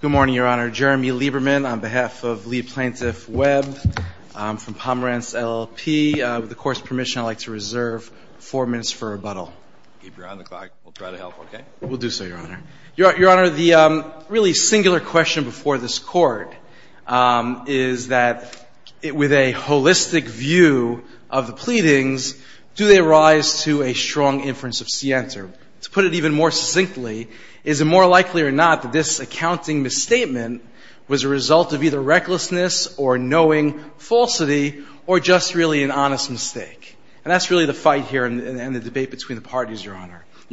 Good morning, Your Honor. Jeremy Lieberman on behalf of Lee Plaintiff Webb from Pomerantz LLP. With the Court's permission, I'd like to reserve four minutes for rebuttal. Keep your eye on the clock. We'll try to help, okay? We'll do so, Your Honor. Your Honor, the really singular question before this Court is that with a holistic view of the pleadings, do they rise to a strong inference of scienter? To put it even more succinctly, is it more likely or not that this accounting misstatement was a result of either recklessness or knowing falsity or just really an honest mistake? And that's really the fight here and the debate between the parties, Your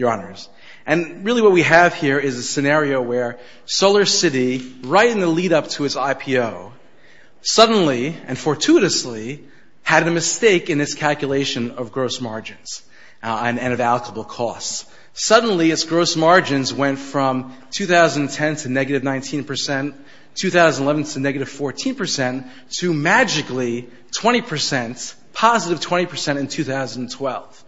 Honors. And really what we have here is a scenario where SolarCity, right in the lead-up to its IPO, suddenly and fortuitously had a mistake in its calculation of gross margins and of allocable costs. Suddenly, its gross margins went from 2010 to negative 19 percent, 2011 to negative 14 percent, to magically 20 percent, positive 20 percent in 2012.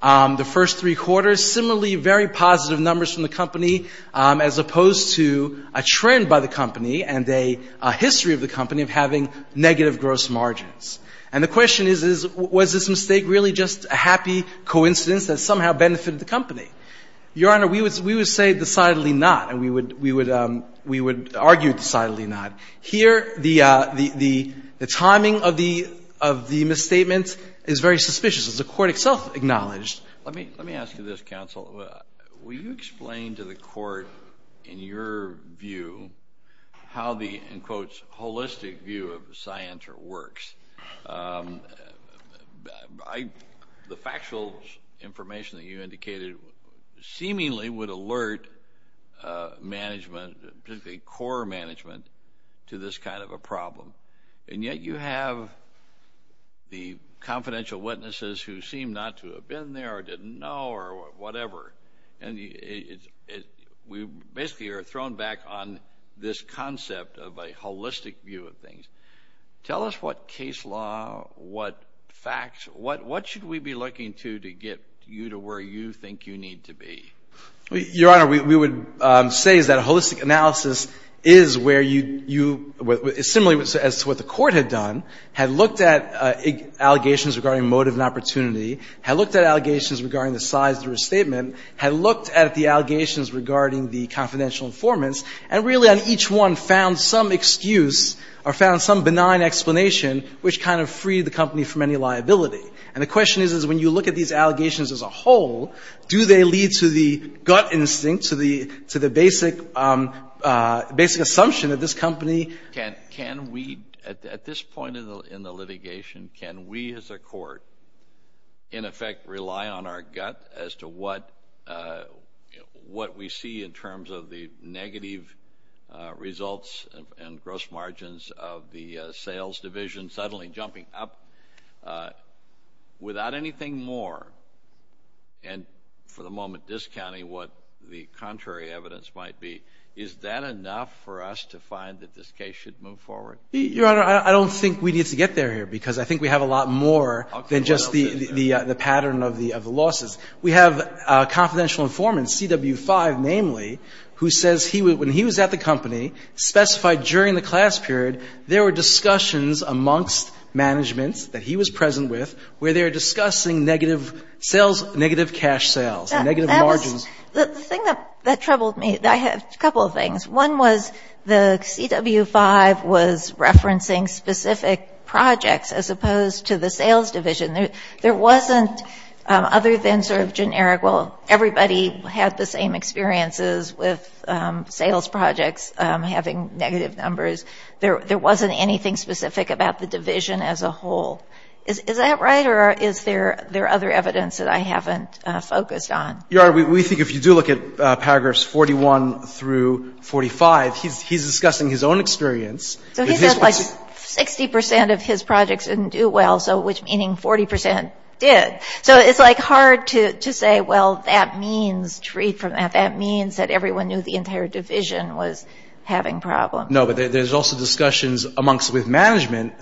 The first three quarters, similarly very positive numbers from the company as opposed to a trend by the company and a history of the company of having negative gross margins. And the question is, was this mistake really just a happy coincidence that somehow benefited the company? Your Honor, we would say decidedly not, and we would argue decidedly not. Here, the timing of the misstatement is very suspicious, as the Court itself acknowledged. Well, will you explain to the Court, in your view, how the, in quotes, holistic view of the scienter works? The factual information that you indicated seemingly would alert management, particularly core management, to this kind of a problem. And yet you have the confidential witnesses who seem not to have been there or didn't know or whatever. And we basically are thrown back on this concept of a holistic view of things. Tell us what case law, what facts, what should we be looking to to get you to where you think you need to be? Your Honor, we would say that a holistic analysis is where you, similarly as to what the Court had done, had looked at allegations regarding motive and opportunity, had looked at allegations regarding the size of the restatement, had looked at the allegations regarding the confidential informants, and really on each one found some excuse or found some benign explanation which kind of freed the company from any liability. And the question is, is when you look at these allegations as a whole, do they lead to the gut instinct, to the basic assumption that this company can we, at this point in the litigation, can we as a Court in effect rely on our gut as to what we see in terms of the negative results and gross margins of the sales division suddenly jumping up without anything more, and for the moment discounting what the contrary evidence might be. Is that enough for us to find that this case should move forward? Your Honor, I don't think we need to get there here because I think we have a lot more than just the pattern of the losses. We have a confidential informant, CW5 namely, who says when he was at the company, specified during the class period, there were discussions amongst management that he was present with, where they were discussing negative cash sales, negative margins. The thing that troubled me, I had a couple of things. One was the CW5 was referencing specific projects as opposed to the sales division. There wasn't, other than sort of generic, well, everybody had the same experiences with sales projects having negative numbers. There wasn't anything specific about the division as a whole. Is that right or is there other evidence that I haven't focused on? Your Honor, we think if you do look at paragraphs 41 through 45, he's discussing his own experience. So he said like 60% of his projects didn't do well, which meaning 40% did. So it's like hard to say, well, that means, to read from that, that means that everyone knew the entire division was having problems. No, but there's also discussions amongst with management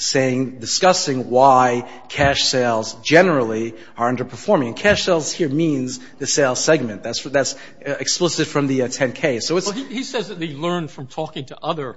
discussing why cash sales generally are underperforming. Cash sales here means the sales segment. That's explicit from the 10-K. He says that he learned from talking to other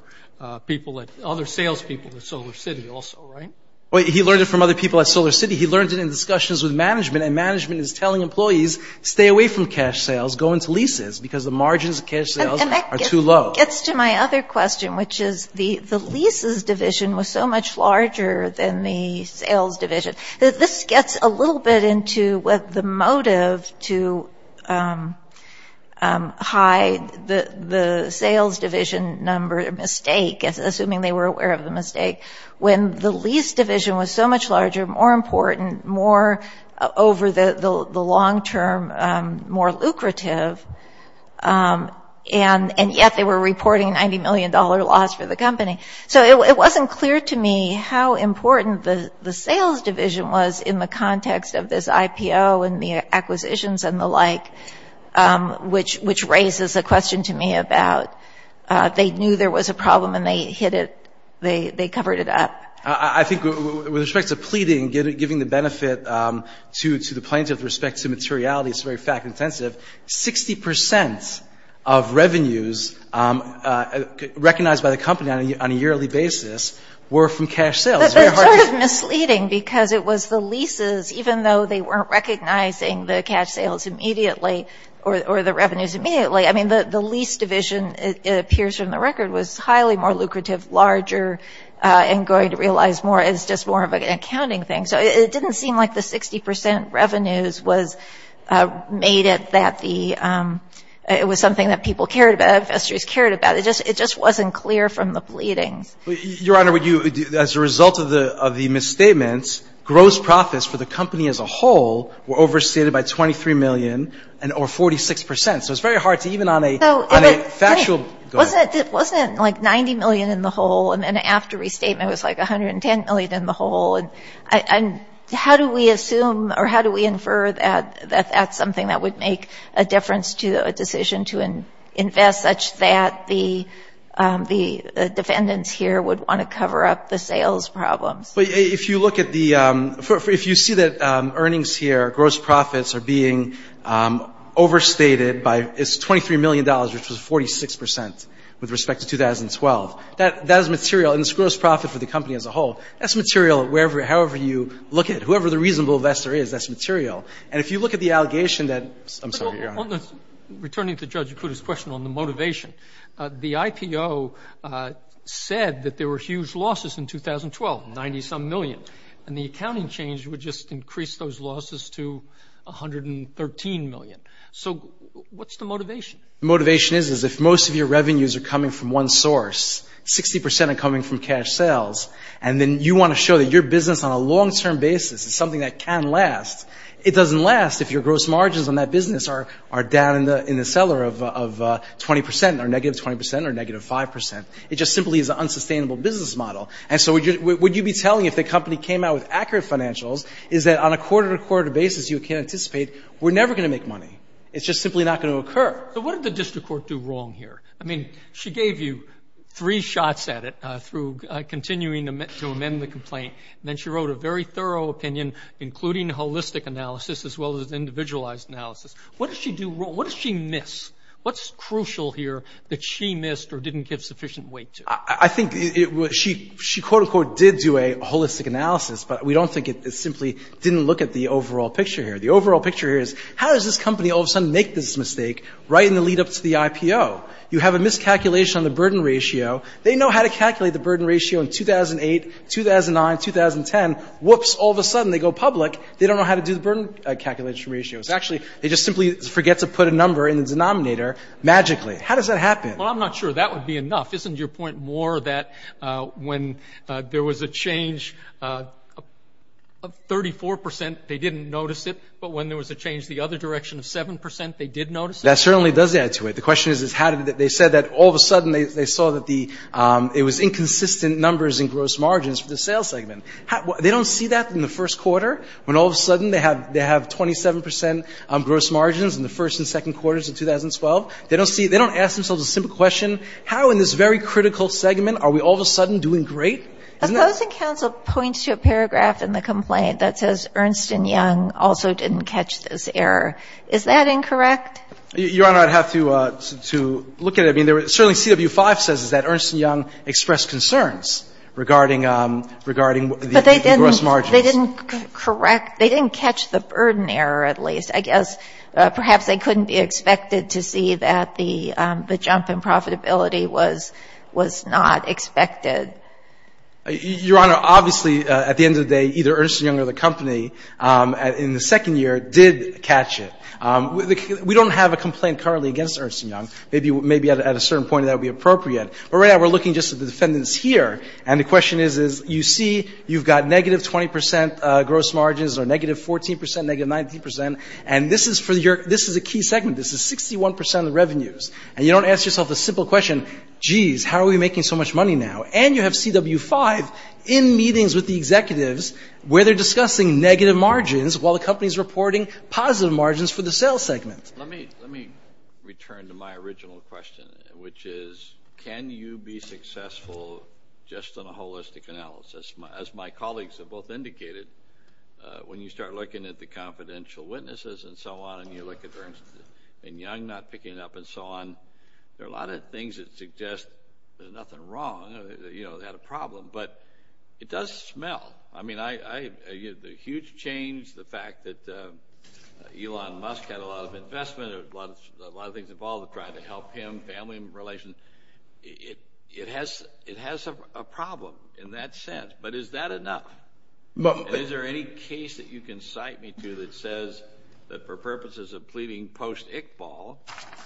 people, other sales people at SolarCity also, right? He learned it from other people at SolarCity. He learned it in discussions with management, and management is telling employees stay away from cash sales, go into leases, because the margins of cash sales are too low. And that gets to my other question, which is the leases division was so much larger than the sales division. This gets a little bit into what the motive to hide the sales division number, a mistake, assuming they were aware of the mistake, when the lease division was so much larger, more important, more over the long term, more lucrative, and yet they were reporting $90 million loss for the company. So it wasn't clear to me how important the sales division was in the context of this IPO and the acquisitions and the like, which raises a question to me about they knew there was a problem and they hid it, they covered it up. I think with respect to pleading, giving the benefit to the plaintiff with respect to materiality, it's very fact-intensive, 60% of revenues recognized by the company on a yearly basis were from cash sales. That's sort of misleading, because it was the leases, even though they weren't recognizing the cash sales immediately, or the revenues immediately, I mean, the lease division, it appears from the record, was highly more lucrative, larger, and going to realize more as just more of an accounting thing. So it didn't seem like the 60% revenues made it that the, it was something that people cared about, investors cared about, it just wasn't clear from the pleadings. Your Honor, would you, as a result of the misstatements, gross profits for the company as a whole were overstated by $23 million, or 46%, so it's very hard to even on a factual... It wasn't like $90 million in the hole, and how do we assume, or how do we infer that that's something that would make a difference to a decision to invest such that the defendants here would want to cover up the sales problems? If you look at the, if you see that earnings here, gross profits are being overstated by, it's $23 million, which was 46% with respect to 2012. That is material, and it's gross profit for the company as a whole. That's material wherever, however you look at it, whoever the reasonable investor is, that's material. And if you look at the allegation that... I'm sorry, Your Honor. Returning to Judge Akuta's question on the motivation, the IPO said that there were huge losses in 2012, 90-some million, and the accounting change would just increase those losses to 113 million. So what's the motivation? The motivation is, is if most of your revenues are coming from one source, 60% are coming from cash sales, and then you want to show that your business on a long-term basis is something that can last, it doesn't last if your gross margins on that business are down in the seller of 20%, or negative 20%, or negative 5%. It just simply is an unsustainable business model. And so what you'd be telling if the company came out with accurate financials is that on a quarter-to-quarter basis you can anticipate we're never going to make money. It's just simply not going to occur. So what did the district court do wrong here? I mean, she gave you three shots at it through continuing to amend the complaint, and then she wrote a very thorough opinion including holistic analysis as well as individualized analysis. What did she do wrong? What did she miss? What's crucial here that she missed or didn't give sufficient weight to? I think she, quote, unquote, did do a holistic analysis, but we don't think it simply didn't look at the overall picture here. The overall picture here is how does this company all of a sudden make this mistake right in the lead-up to the IPO? You have a miscalculation on the burden ratio. They know how to calculate the burden ratio in 2008, 2009, 2010. Whoops, all of a sudden they go public. They don't know how to do the burden calculation ratios. Actually, they just simply forget to put a number in the denominator magically. How does that happen? Well, I'm not sure that would be enough. Isn't your point more that when there was a change of 34%, they didn't notice it, but when there was a change the other direction of 7%, they did notice it? That certainly does add to it. The question is they said that all of a sudden they saw that it was inconsistent numbers in gross margins for the sales segment. They don't see that in the first quarter when all of a sudden they have 27% gross margins in the first and second quarters of 2012? They don't ask themselves a simple question, how in this very critical segment are we all of a sudden doing great? A closing counsel points to a paragraph in the complaint that says Ernst & Young also didn't catch this error. Is that incorrect? Your Honor, I'd have to look at it. I mean, certainly CW-5 says that Ernst & Young expressed concerns regarding the gross margins. But they didn't correct, they didn't catch the burden error at least. I guess perhaps they couldn't be expected to see that the jump in profitability was not expected. Your Honor, obviously at the end of the day, either Ernst & Young or the company in the second year did catch it. We don't have a complaint currently against Ernst & Young. Maybe at a certain point that would be appropriate. But right now we're looking just at the defendants here. And the question is, you see you've got negative 20% gross margins, or negative 14%, negative 19%. And this is a key segment. This is 61% of the revenues. And you don't ask yourself a simple question, geez, how are we making so much money now? And you have CW-5 in meetings with the executives where they're discussing negative margins while the company's reporting positive margins for the sales segment. Let me return to my original question, which is can you be successful just on a holistic analysis? As my colleagues have both indicated, when you start looking at the confidential witnesses and so on, and you look at Ernst & Young not picking it up and so on, there are a lot of things that suggest there's nothing wrong, you know, they had a problem. But it does smell. I mean, the huge change, the fact that Elon Musk had a lot of investment, a lot of things involved in trying to help him, family relations, it has a problem in that sense. But is that enough? Is there any case that you can cite me to that says that for purposes of pleading post-Iqbal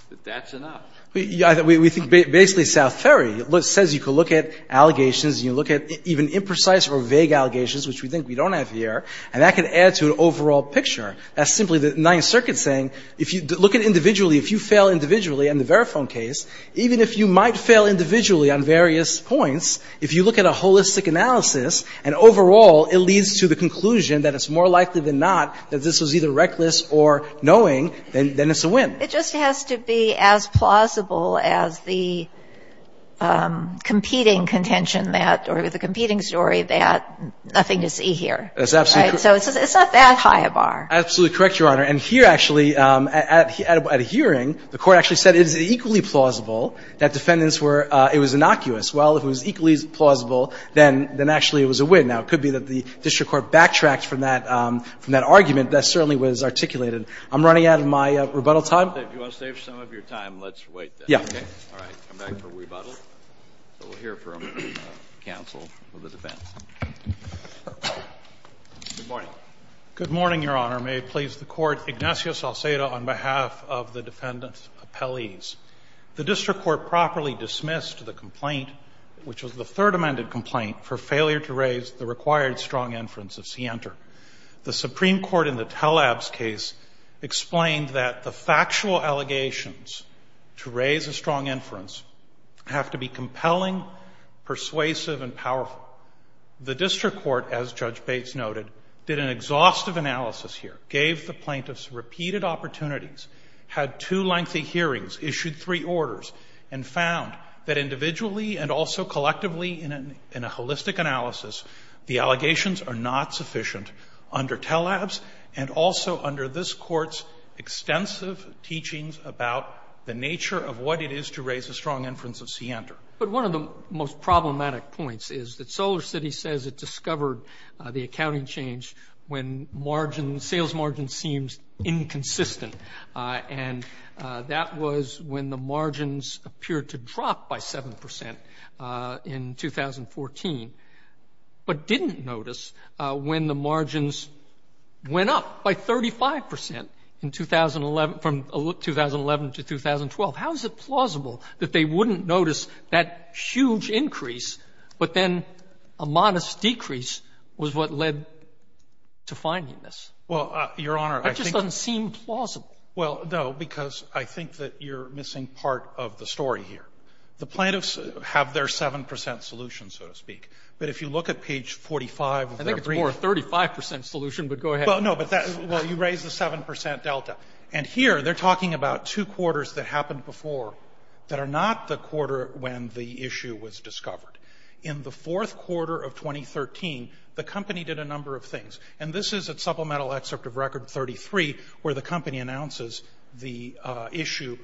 that that's enough? We think basically South Ferry says you can look at allegations and you look at even imprecise or vague allegations, which we think we don't have here, and that can add to an overall picture. That's simply the Ninth Circuit saying if you look at individually, if you fail individually in the Verifone case, even if you might fail individually on various points, if you look at a holistic analysis and overall it leads to the conclusion that it's more likely than not that this was either reckless or knowing, then it's a win. It just has to be as plausible as the competing contention that or the competing story that nothing to see here. That's absolutely correct. So it's not that high a bar. Absolutely correct, Your Honor. And here actually, at a hearing, the Court actually said it is equally plausible that defendants were – it was innocuous. Well, if it was equally plausible, then actually it was a win. Now, it could be that the district court backtracked from that argument. That certainly was articulated. I'm running out of my rebuttal time. If you want to save some of your time, let's wait then. Yeah. All right. Come back for rebuttal. So we'll hear from counsel of the defense. Good morning. Good morning, Your Honor. May it please the Court. Ignatius Alcedo on behalf of the defendant's appellees. The district court properly dismissed the complaint, which was the third amended complaint, for failure to raise the required strong inference of scienter. The Supreme Court in the Tellab's case explained that the factual allegations to raise a strong inference have to be compelling, persuasive, and powerful. The district court, as Judge Bates noted, did an exhaustive analysis here, gave the plaintiffs repeated opportunities, had two lengthy hearings, issued three orders, and found that individually and also collectively in a holistic analysis, the allegations are not sufficient under Tellab's and also under this court's extensive teachings about the nature of what it is to raise a strong inference of scienter. But one of the most problematic points is that SolarCity says it discovered the accounting change when margin, sales margin, seems inconsistent. And that was when the margins appeared to drop by 7 percent in 2014. But didn't notice when the margins went up by 35 percent in 2011, from 2011 to 2012. How is it plausible that they wouldn't notice that huge increase, but then a modest decrease was what led to finding this? Well, Your Honor, I think that just doesn't seem plausible. Well, no, because I think that you're missing part of the story here. The plaintiffs have their 7 percent solution, so to speak. But if you look at page 45 of their brief. I think it's more of a 35 percent solution, but go ahead. Well, no, but you raise the 7 percent delta. And here they're talking about two quarters that happened before that are not the quarter when the issue was discovered. In the fourth quarter of 2013, the company did a number of things. And this is at Supplemental Excerpt of Record 33 where the company announces the issue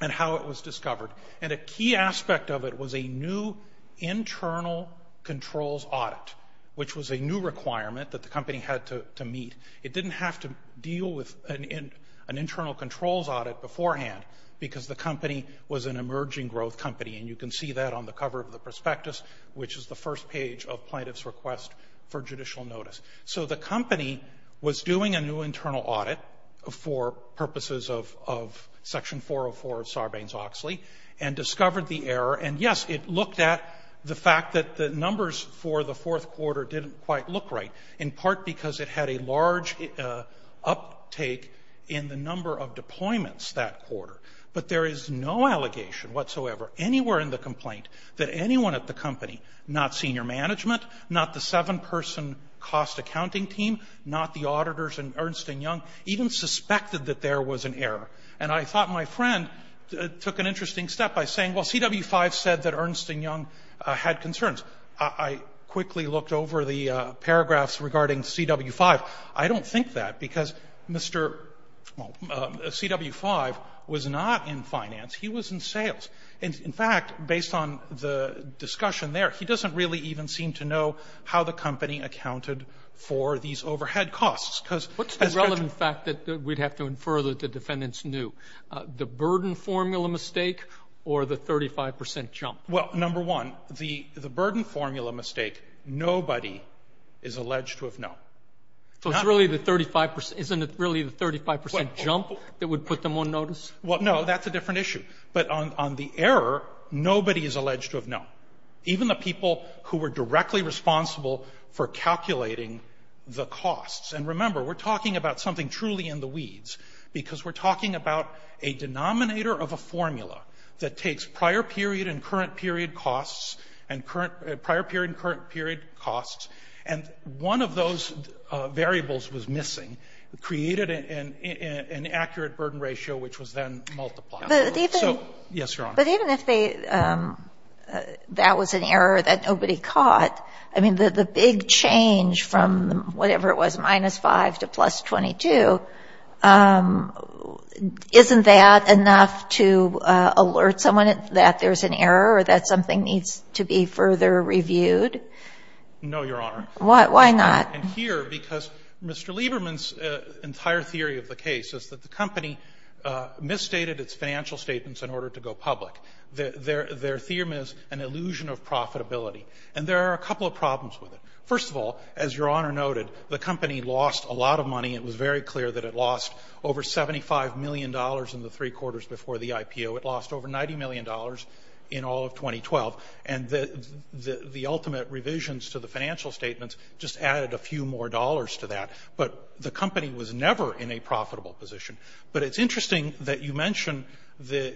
and how it was discovered. And a key aspect of it was a new internal controls audit, which was a new requirement that the company had to meet. It didn't have to deal with an internal controls audit beforehand because the company was an emerging growth company. And you can see that on the cover of the prospectus, which is the first page of plaintiff's request for judicial notice. So the company was doing a new internal audit for purposes of Section 404 of Section 33 and discovered the error. And, yes, it looked at the fact that the numbers for the fourth quarter didn't quite look right, in part because it had a large uptake in the number of deployments that quarter. But there is no allegation whatsoever anywhere in the complaint that anyone at the company, not senior management, not the seven-person cost accounting team, not the auditors in Ernst & Young, even suspected that there was an error. And I thought my friend took an interesting step by saying, well, CW-5 said that Ernst & Young had concerns. I quickly looked over the paragraphs regarding CW-5. I don't think that, because Mr. CW-5 was not in finance. He was in sales. And, in fact, based on the discussion there, he doesn't really even seem to know how the company accounted for these overhead costs, because as Reggie said. I'm sure that the defendants knew. The burden formula mistake or the 35 percent jump? Well, number one, the burden formula mistake, nobody is alleged to have known. So it's really the 35 percent. Isn't it really the 35 percent jump that would put them on notice? Well, no. That's a different issue. But on the error, nobody is alleged to have known, even the people who were directly responsible for calculating the costs. And remember, we're talking about something truly in the weeds, because we're talking about a denominator of a formula that takes prior period and current period costs, and prior period and current period costs, and one of those variables was missing, created an accurate burden ratio, which was then multiplied. Yes, Your Honor. The big change from whatever it was, minus 5 to plus 22, isn't that enough to alert someone that there's an error or that something needs to be further reviewed? No, Your Honor. Why not? And here, because Mr. Lieberman's entire theory of the case is that the company misstated its financial statements in order to go public. Their theorem is an illusion of profitability. And there are a couple of problems with it. First of all, as Your Honor noted, the company lost a lot of money. It was very clear that it lost over $75 million in the three quarters before the IPO. It lost over $90 million in all of 2012. And the ultimate revisions to the financial statements just added a few more dollars to that. But the company was never in a profitable position. But it's interesting that you mention the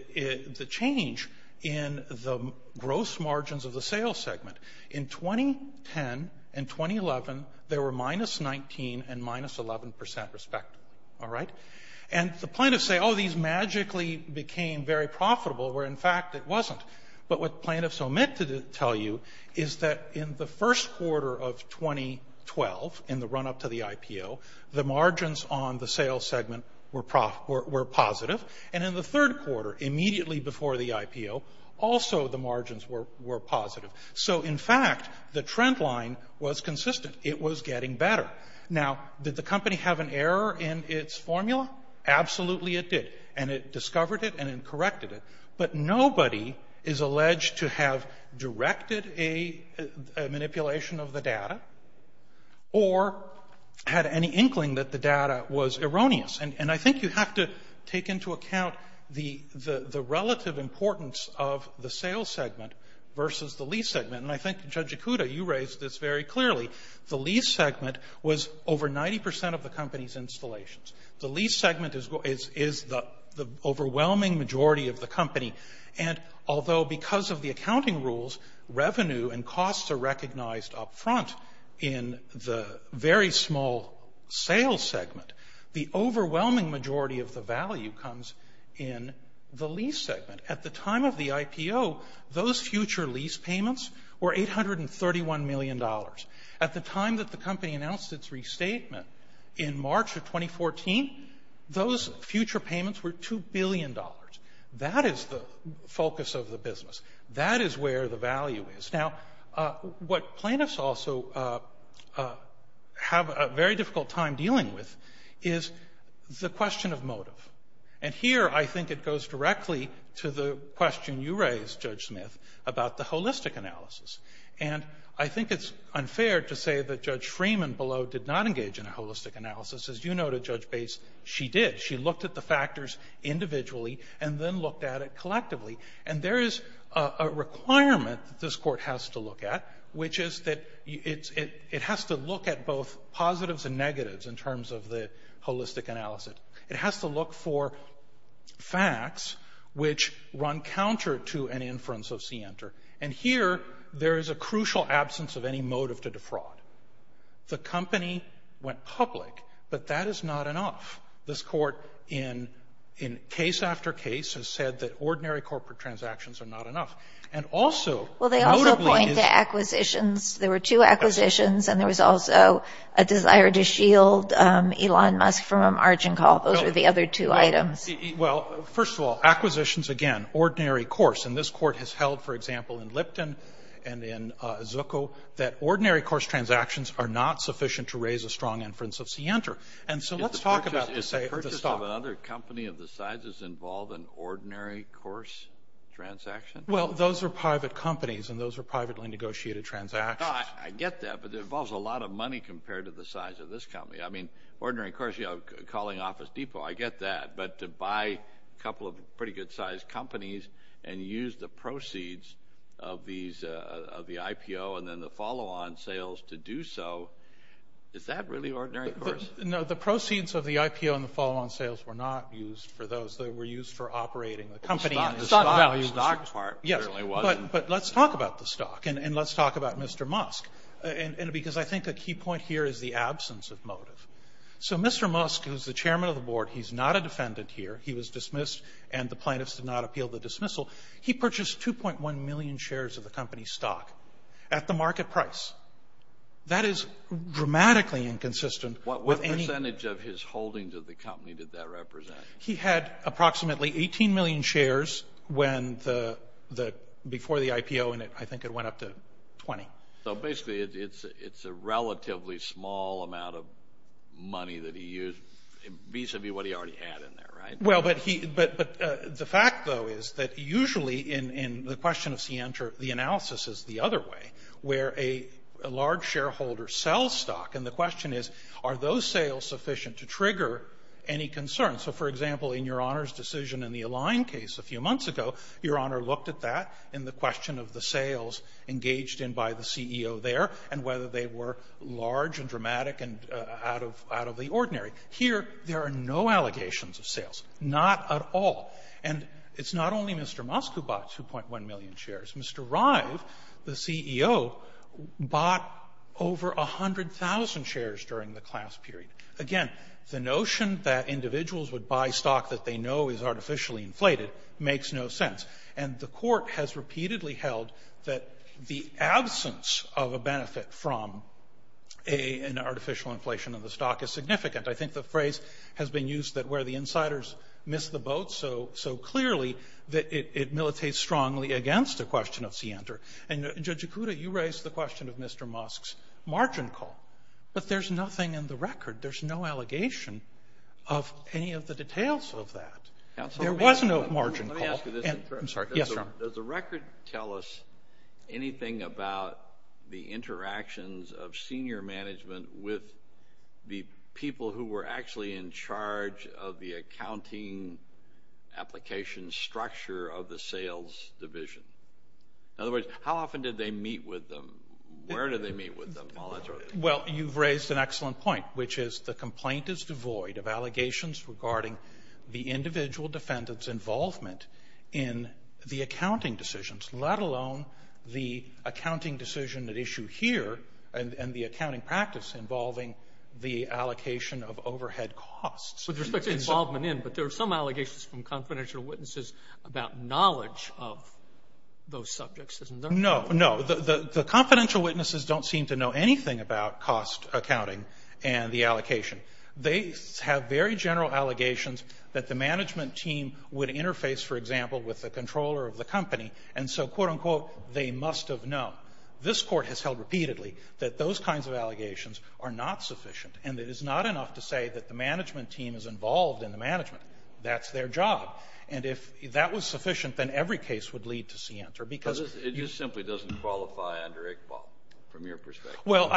change in the gross margins of the sales segment. In 2010 and 2011, there were minus 19 and minus 11 percent respect. All right? And the plaintiffs say, oh, these magically became very profitable, where, in fact, it wasn't. But what the plaintiffs omit to tell you is that in the first quarter of 2012, in the run-up to the IPO, the margins on the sales segment were positive. And in the third quarter, immediately before the IPO, also the margins were positive. So, in fact, the trend line was consistent. It was getting better. Now, did the company have an error in its formula? Absolutely it did. And it discovered it and it corrected it. But nobody is alleged to have directed a manipulation of the data or had any inkling that the data was erroneous. And I think you have to take into account the relative importance of the sales segment versus the lease segment. And I think, Judge Ikuda, you raised this very clearly. The lease segment was over 90 percent of the company's installations. The lease segment is the overwhelming majority of the company. And although because of the accounting rules, revenue and costs are recognized up front in the very small sales segment, the overwhelming majority of the value comes in the lease segment. At the time of the IPO, those future lease payments were $831 million. At the time that the company announced its restatement, in March of 2014, those future payments were $2 billion. That is the focus of the business. That is where the value is. Now, what plaintiffs also have a very difficult time dealing with is the question of motive. And here I think it goes directly to the question you raised, Judge Smith, about the holistic analysis. And I think it's unfair to say that Judge Freeman below did not engage in a holistic analysis. As you noted, Judge Bates, she did. She looked at the factors individually and then looked at it collectively. And there is a requirement that this Court has to look at, which is that it has to look at both positives and negatives in terms of the holistic analysis. It has to look for facts which run counter to an inference of scienter. And here there is a crucial absence of any motive to defraud. The company went public, but that is not enough. This Court, in case after case, has said that ordinary corporate transactions are not enough. And also, notably- Well, they also point to acquisitions. There were two acquisitions, and there was also a desire to shield Elon Musk from a margin call. Those were the other two items. Well, first of all, acquisitions, again, ordinary course. And this Court has held, for example, in Lipton and in Zucco, that ordinary course transactions are not sufficient to raise a strong inference of scienter. And so let's talk about the stock. Is the purchase of another company of the sizes involved in ordinary course transactions? Well, those are private companies, and those are privately negotiated transactions. I get that, but it involves a lot of money compared to the size of this company. I mean, ordinary course, you know, calling Office Depot, I get that. But to buy a couple of pretty good-sized companies and use the proceeds of the IPO and then the follow-on sales to do so, is that really ordinary course? No. The proceeds of the IPO and the follow-on sales were not used for those. They were used for operating the company and the stock. Stock value. Yes. But let's talk about the stock, and let's talk about Mr. Musk, because I think a key point here is the absence of motive. So Mr. Musk, who's the chairman of the board, he's not a defendant here. He was dismissed, and the plaintiffs did not appeal the dismissal. He purchased 2.1 million shares of the company's stock at the market price. That is dramatically inconsistent. What percentage of his holdings of the company did that represent? He had approximately 18 million shares before the IPO, and I think it went up to 20. So basically, it's a relatively small amount of money that he used, vis-a-vis what he already had in there, right? Well, but the fact, though, is that usually, in the question of scienter, the analysis is the other way, where a large shareholder sells stock, and the question is, are those sales sufficient to trigger any concern? So, for example, in Your Honor's decision in the Align case a few months ago, Your Honor looked at that in the question of the sales engaged in by the CEO there and whether they were large and dramatic and out of the ordinary. Here, there are no allegations of sales. Not at all. And it's not only Mr. Musk who bought 2.1 million shares. Mr. Rive, the CEO, bought over 100,000 shares during the class period. Again, the notion that individuals would buy stock that they know is artificially inflated makes no sense, and the court has repeatedly held that the absence of a benefit from an artificial inflation of the stock is significant. I think the phrase has been used that where the insiders miss the boat so clearly that it militates strongly against the question of scienter. And Judge Ikuda, you raised the question of Mr. Musk's margin call, but there's nothing in the record. There's no allegation of any of the details of that. There was no margin call. Let me ask you this in turn. I'm sorry. Yes, Your Honor. Does the record tell us anything about the interactions of senior management with the people who were actually in charge of the accounting application structure of the sales division? In other words, how often did they meet with them? Where did they meet with them? Well, you've raised an excellent point, which is the complaint is devoid of allegations regarding the individual defendant's involvement in the accounting decisions, let alone the accounting decision at issue here and the accounting practice involving the allocation of overhead costs. With respect to involvement in, but there are some allegations from confidential witnesses about knowledge of those subjects, isn't there? No, no. The confidential witnesses don't seem to know anything about cost accounting and the allocation. They have very general allegations that the management team would interface, for example, with the controller of the company. And so, quote, unquote, they must have known. This Court has held repeatedly that those kinds of allegations are not sufficient and it is not enough to say that the management team is involved in the management. That's their job. And if that was sufficient, then every case would lead to scienter, because you — It just simply doesn't qualify under Iqbal, from your perspective. Well,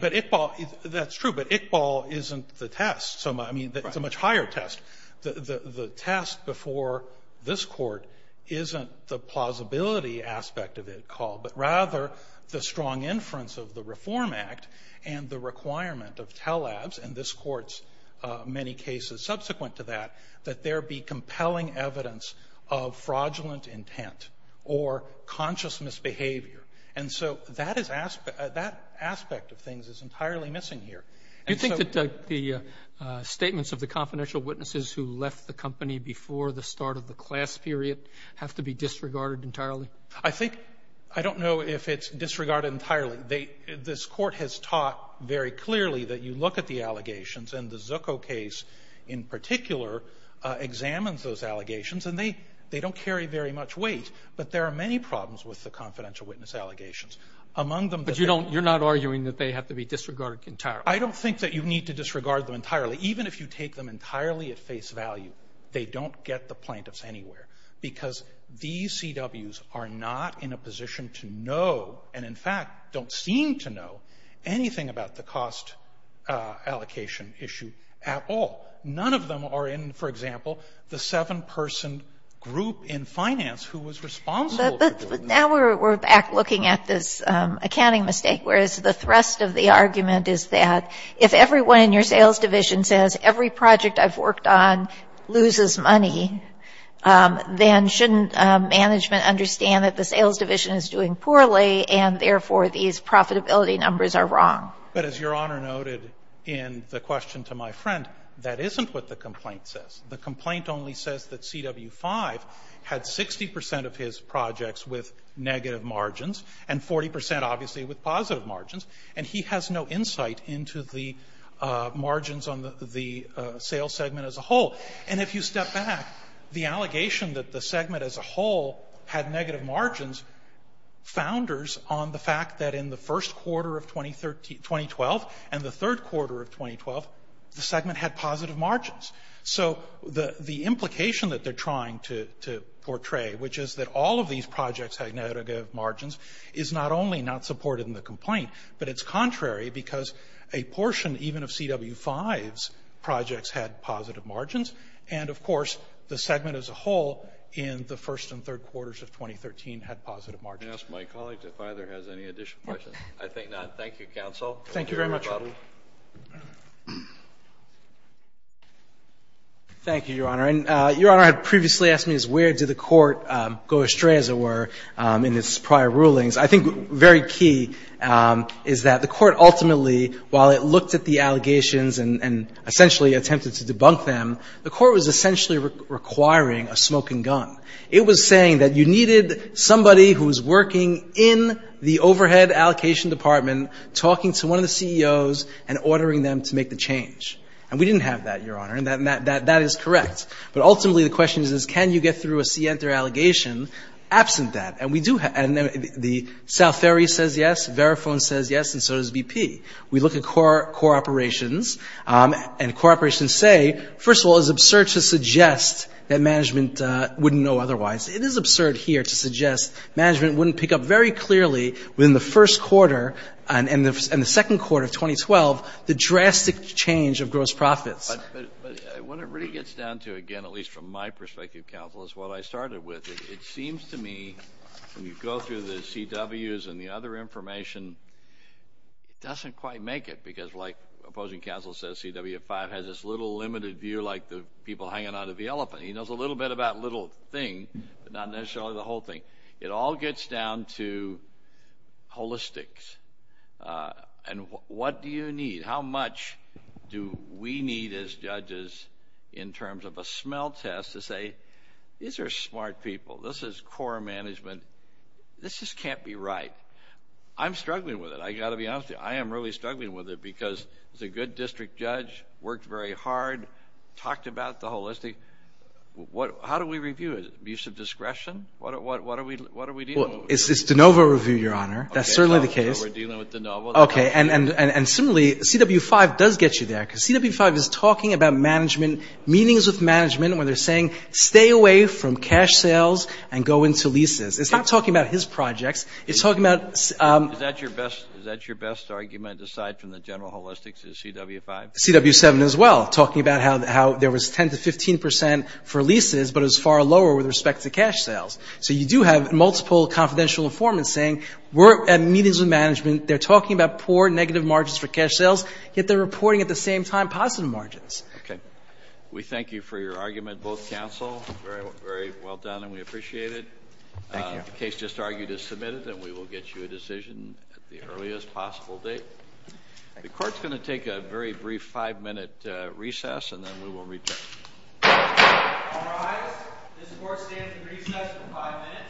but Iqbal — that's true, but Iqbal isn't the test. So, I mean, it's a much higher test. The test before this Court isn't the plausibility aspect of it called, but rather the strong inference of the Reform Act and the requirement of TALABs and this Court's many cases subsequent to that, that there be compelling evidence of fraudulent intent or conscious misbehavior. And so that aspect of things is entirely missing here. Do you think that the statements of the confidential witnesses who left the company before the start of the class period have to be disregarded entirely? I think — I don't know if it's disregarded entirely. This Court has taught very clearly that you look at the allegations, and the Zucco case in particular examines those allegations, and they don't carry very much weight. But there are many problems with the confidential witness allegations. Among them — But you don't — you're not arguing that they have to be disregarded entirely? I don't think that you need to disregard them entirely. Even if you take them entirely at face value, they don't get the plaintiffs anywhere. Because these CWs are not in a position to know, and in fact don't seem to know, anything about the cost allocation issue at all. None of them are in, for example, the seven-person group in finance who was responsible for doing this. But now we're back looking at this accounting mistake, whereas the thrust of the argument is that if everyone in your sales division says, every project I've worked on loses money, then shouldn't management understand that the sales division is doing poorly, and therefore these profitability numbers are wrong? But as Your Honor noted in the question to my friend, that isn't what the complaint says. The complaint only says that CW-5 had 60 percent of his projects with negative margins, and 40 percent, obviously, with positive margins. And he has no insight into the margins on the sales segment as a whole. And if you step back, the allegation that the segment as a whole had negative margins founders on the fact that in the first quarter of 2012 and the third quarter of 2012, the segment had positive margins. So the implication that they're trying to portray, which is that all of these projects had negative margins, is not only not supported in the complaint, but it's contrary because a portion even of CW-5's projects had positive margins, and of course, the segment as a whole in the first and third quarters of 2013 had positive margins. Kennedy. Can I ask my colleague if either has any additional questions? I think not. Thank you, counsel. Thank you very much, Your Honor. Thank you, Your Honor. And Your Honor had previously asked me is where did the court go astray, as it were, in its prior rulings. I think very key is that the court ultimately, while it looked at the allegations and essentially attempted to debunk them, the court was essentially requiring a smoking gun. It was saying that you needed somebody who was working in the overhead allocation department talking to one of the CEOs and ordering them to make the change. And we didn't have that, Your Honor. And that is correct. But ultimately, the question is, can you get through a scienter allegation absent that? And we do have the South Ferry says yes, Verifone says yes, and so does BP. We look at core operations, and core operations say, first of all, it's absurd to suggest that management wouldn't know otherwise. It is absurd here to suggest management wouldn't pick up very clearly within the first quarter and the second quarter of 2012 the drastic change of gross profits. But what it really gets down to, again, at least from my perspective, Counsel, is what I started with. It seems to me when you go through the CWs and the other information, it doesn't quite make it because, like opposing counsel says, CW5 has this little limited view like the people hanging on to the elephant. He knows a little bit about a little thing, but not necessarily the whole thing. It all gets down to holistic. And what do you need? How much do we need as judges in terms of a smell test to say, these are smart people. This is core management. This just can't be right. I'm struggling with it. I've got to be honest with you. I am really struggling with it because it's a good district judge, worked very hard, talked about the holistic. How do we review it? Use of discretion? What are we dealing with? It's DeNovo review, Your Honor. That's certainly the case. Okay, so we're dealing with DeNovo. Okay, and similarly, CW5 does get you there because CW5 is talking about management, meetings with management where they're saying, stay away from cash sales and go into leases. It's not talking about his projects. It's talking about – Is that your best argument aside from the general holistics is CW5? CW7 as well, talking about how there was 10 to 15 percent for leases, but it was far lower with respect to cash sales. So you do have multiple confidential informants saying, we're at meetings with management. They're talking about poor negative margins for cash sales, yet they're reporting at the same time positive margins. Okay. We thank you for your argument, both counsel. Very well done, and we appreciate it. Thank you. The case just argued is submitted, and we will get you a decision at the earliest possible date. The court's going to take a very brief five-minute recess, and then we will return. All rise. This court stands in recess for five minutes.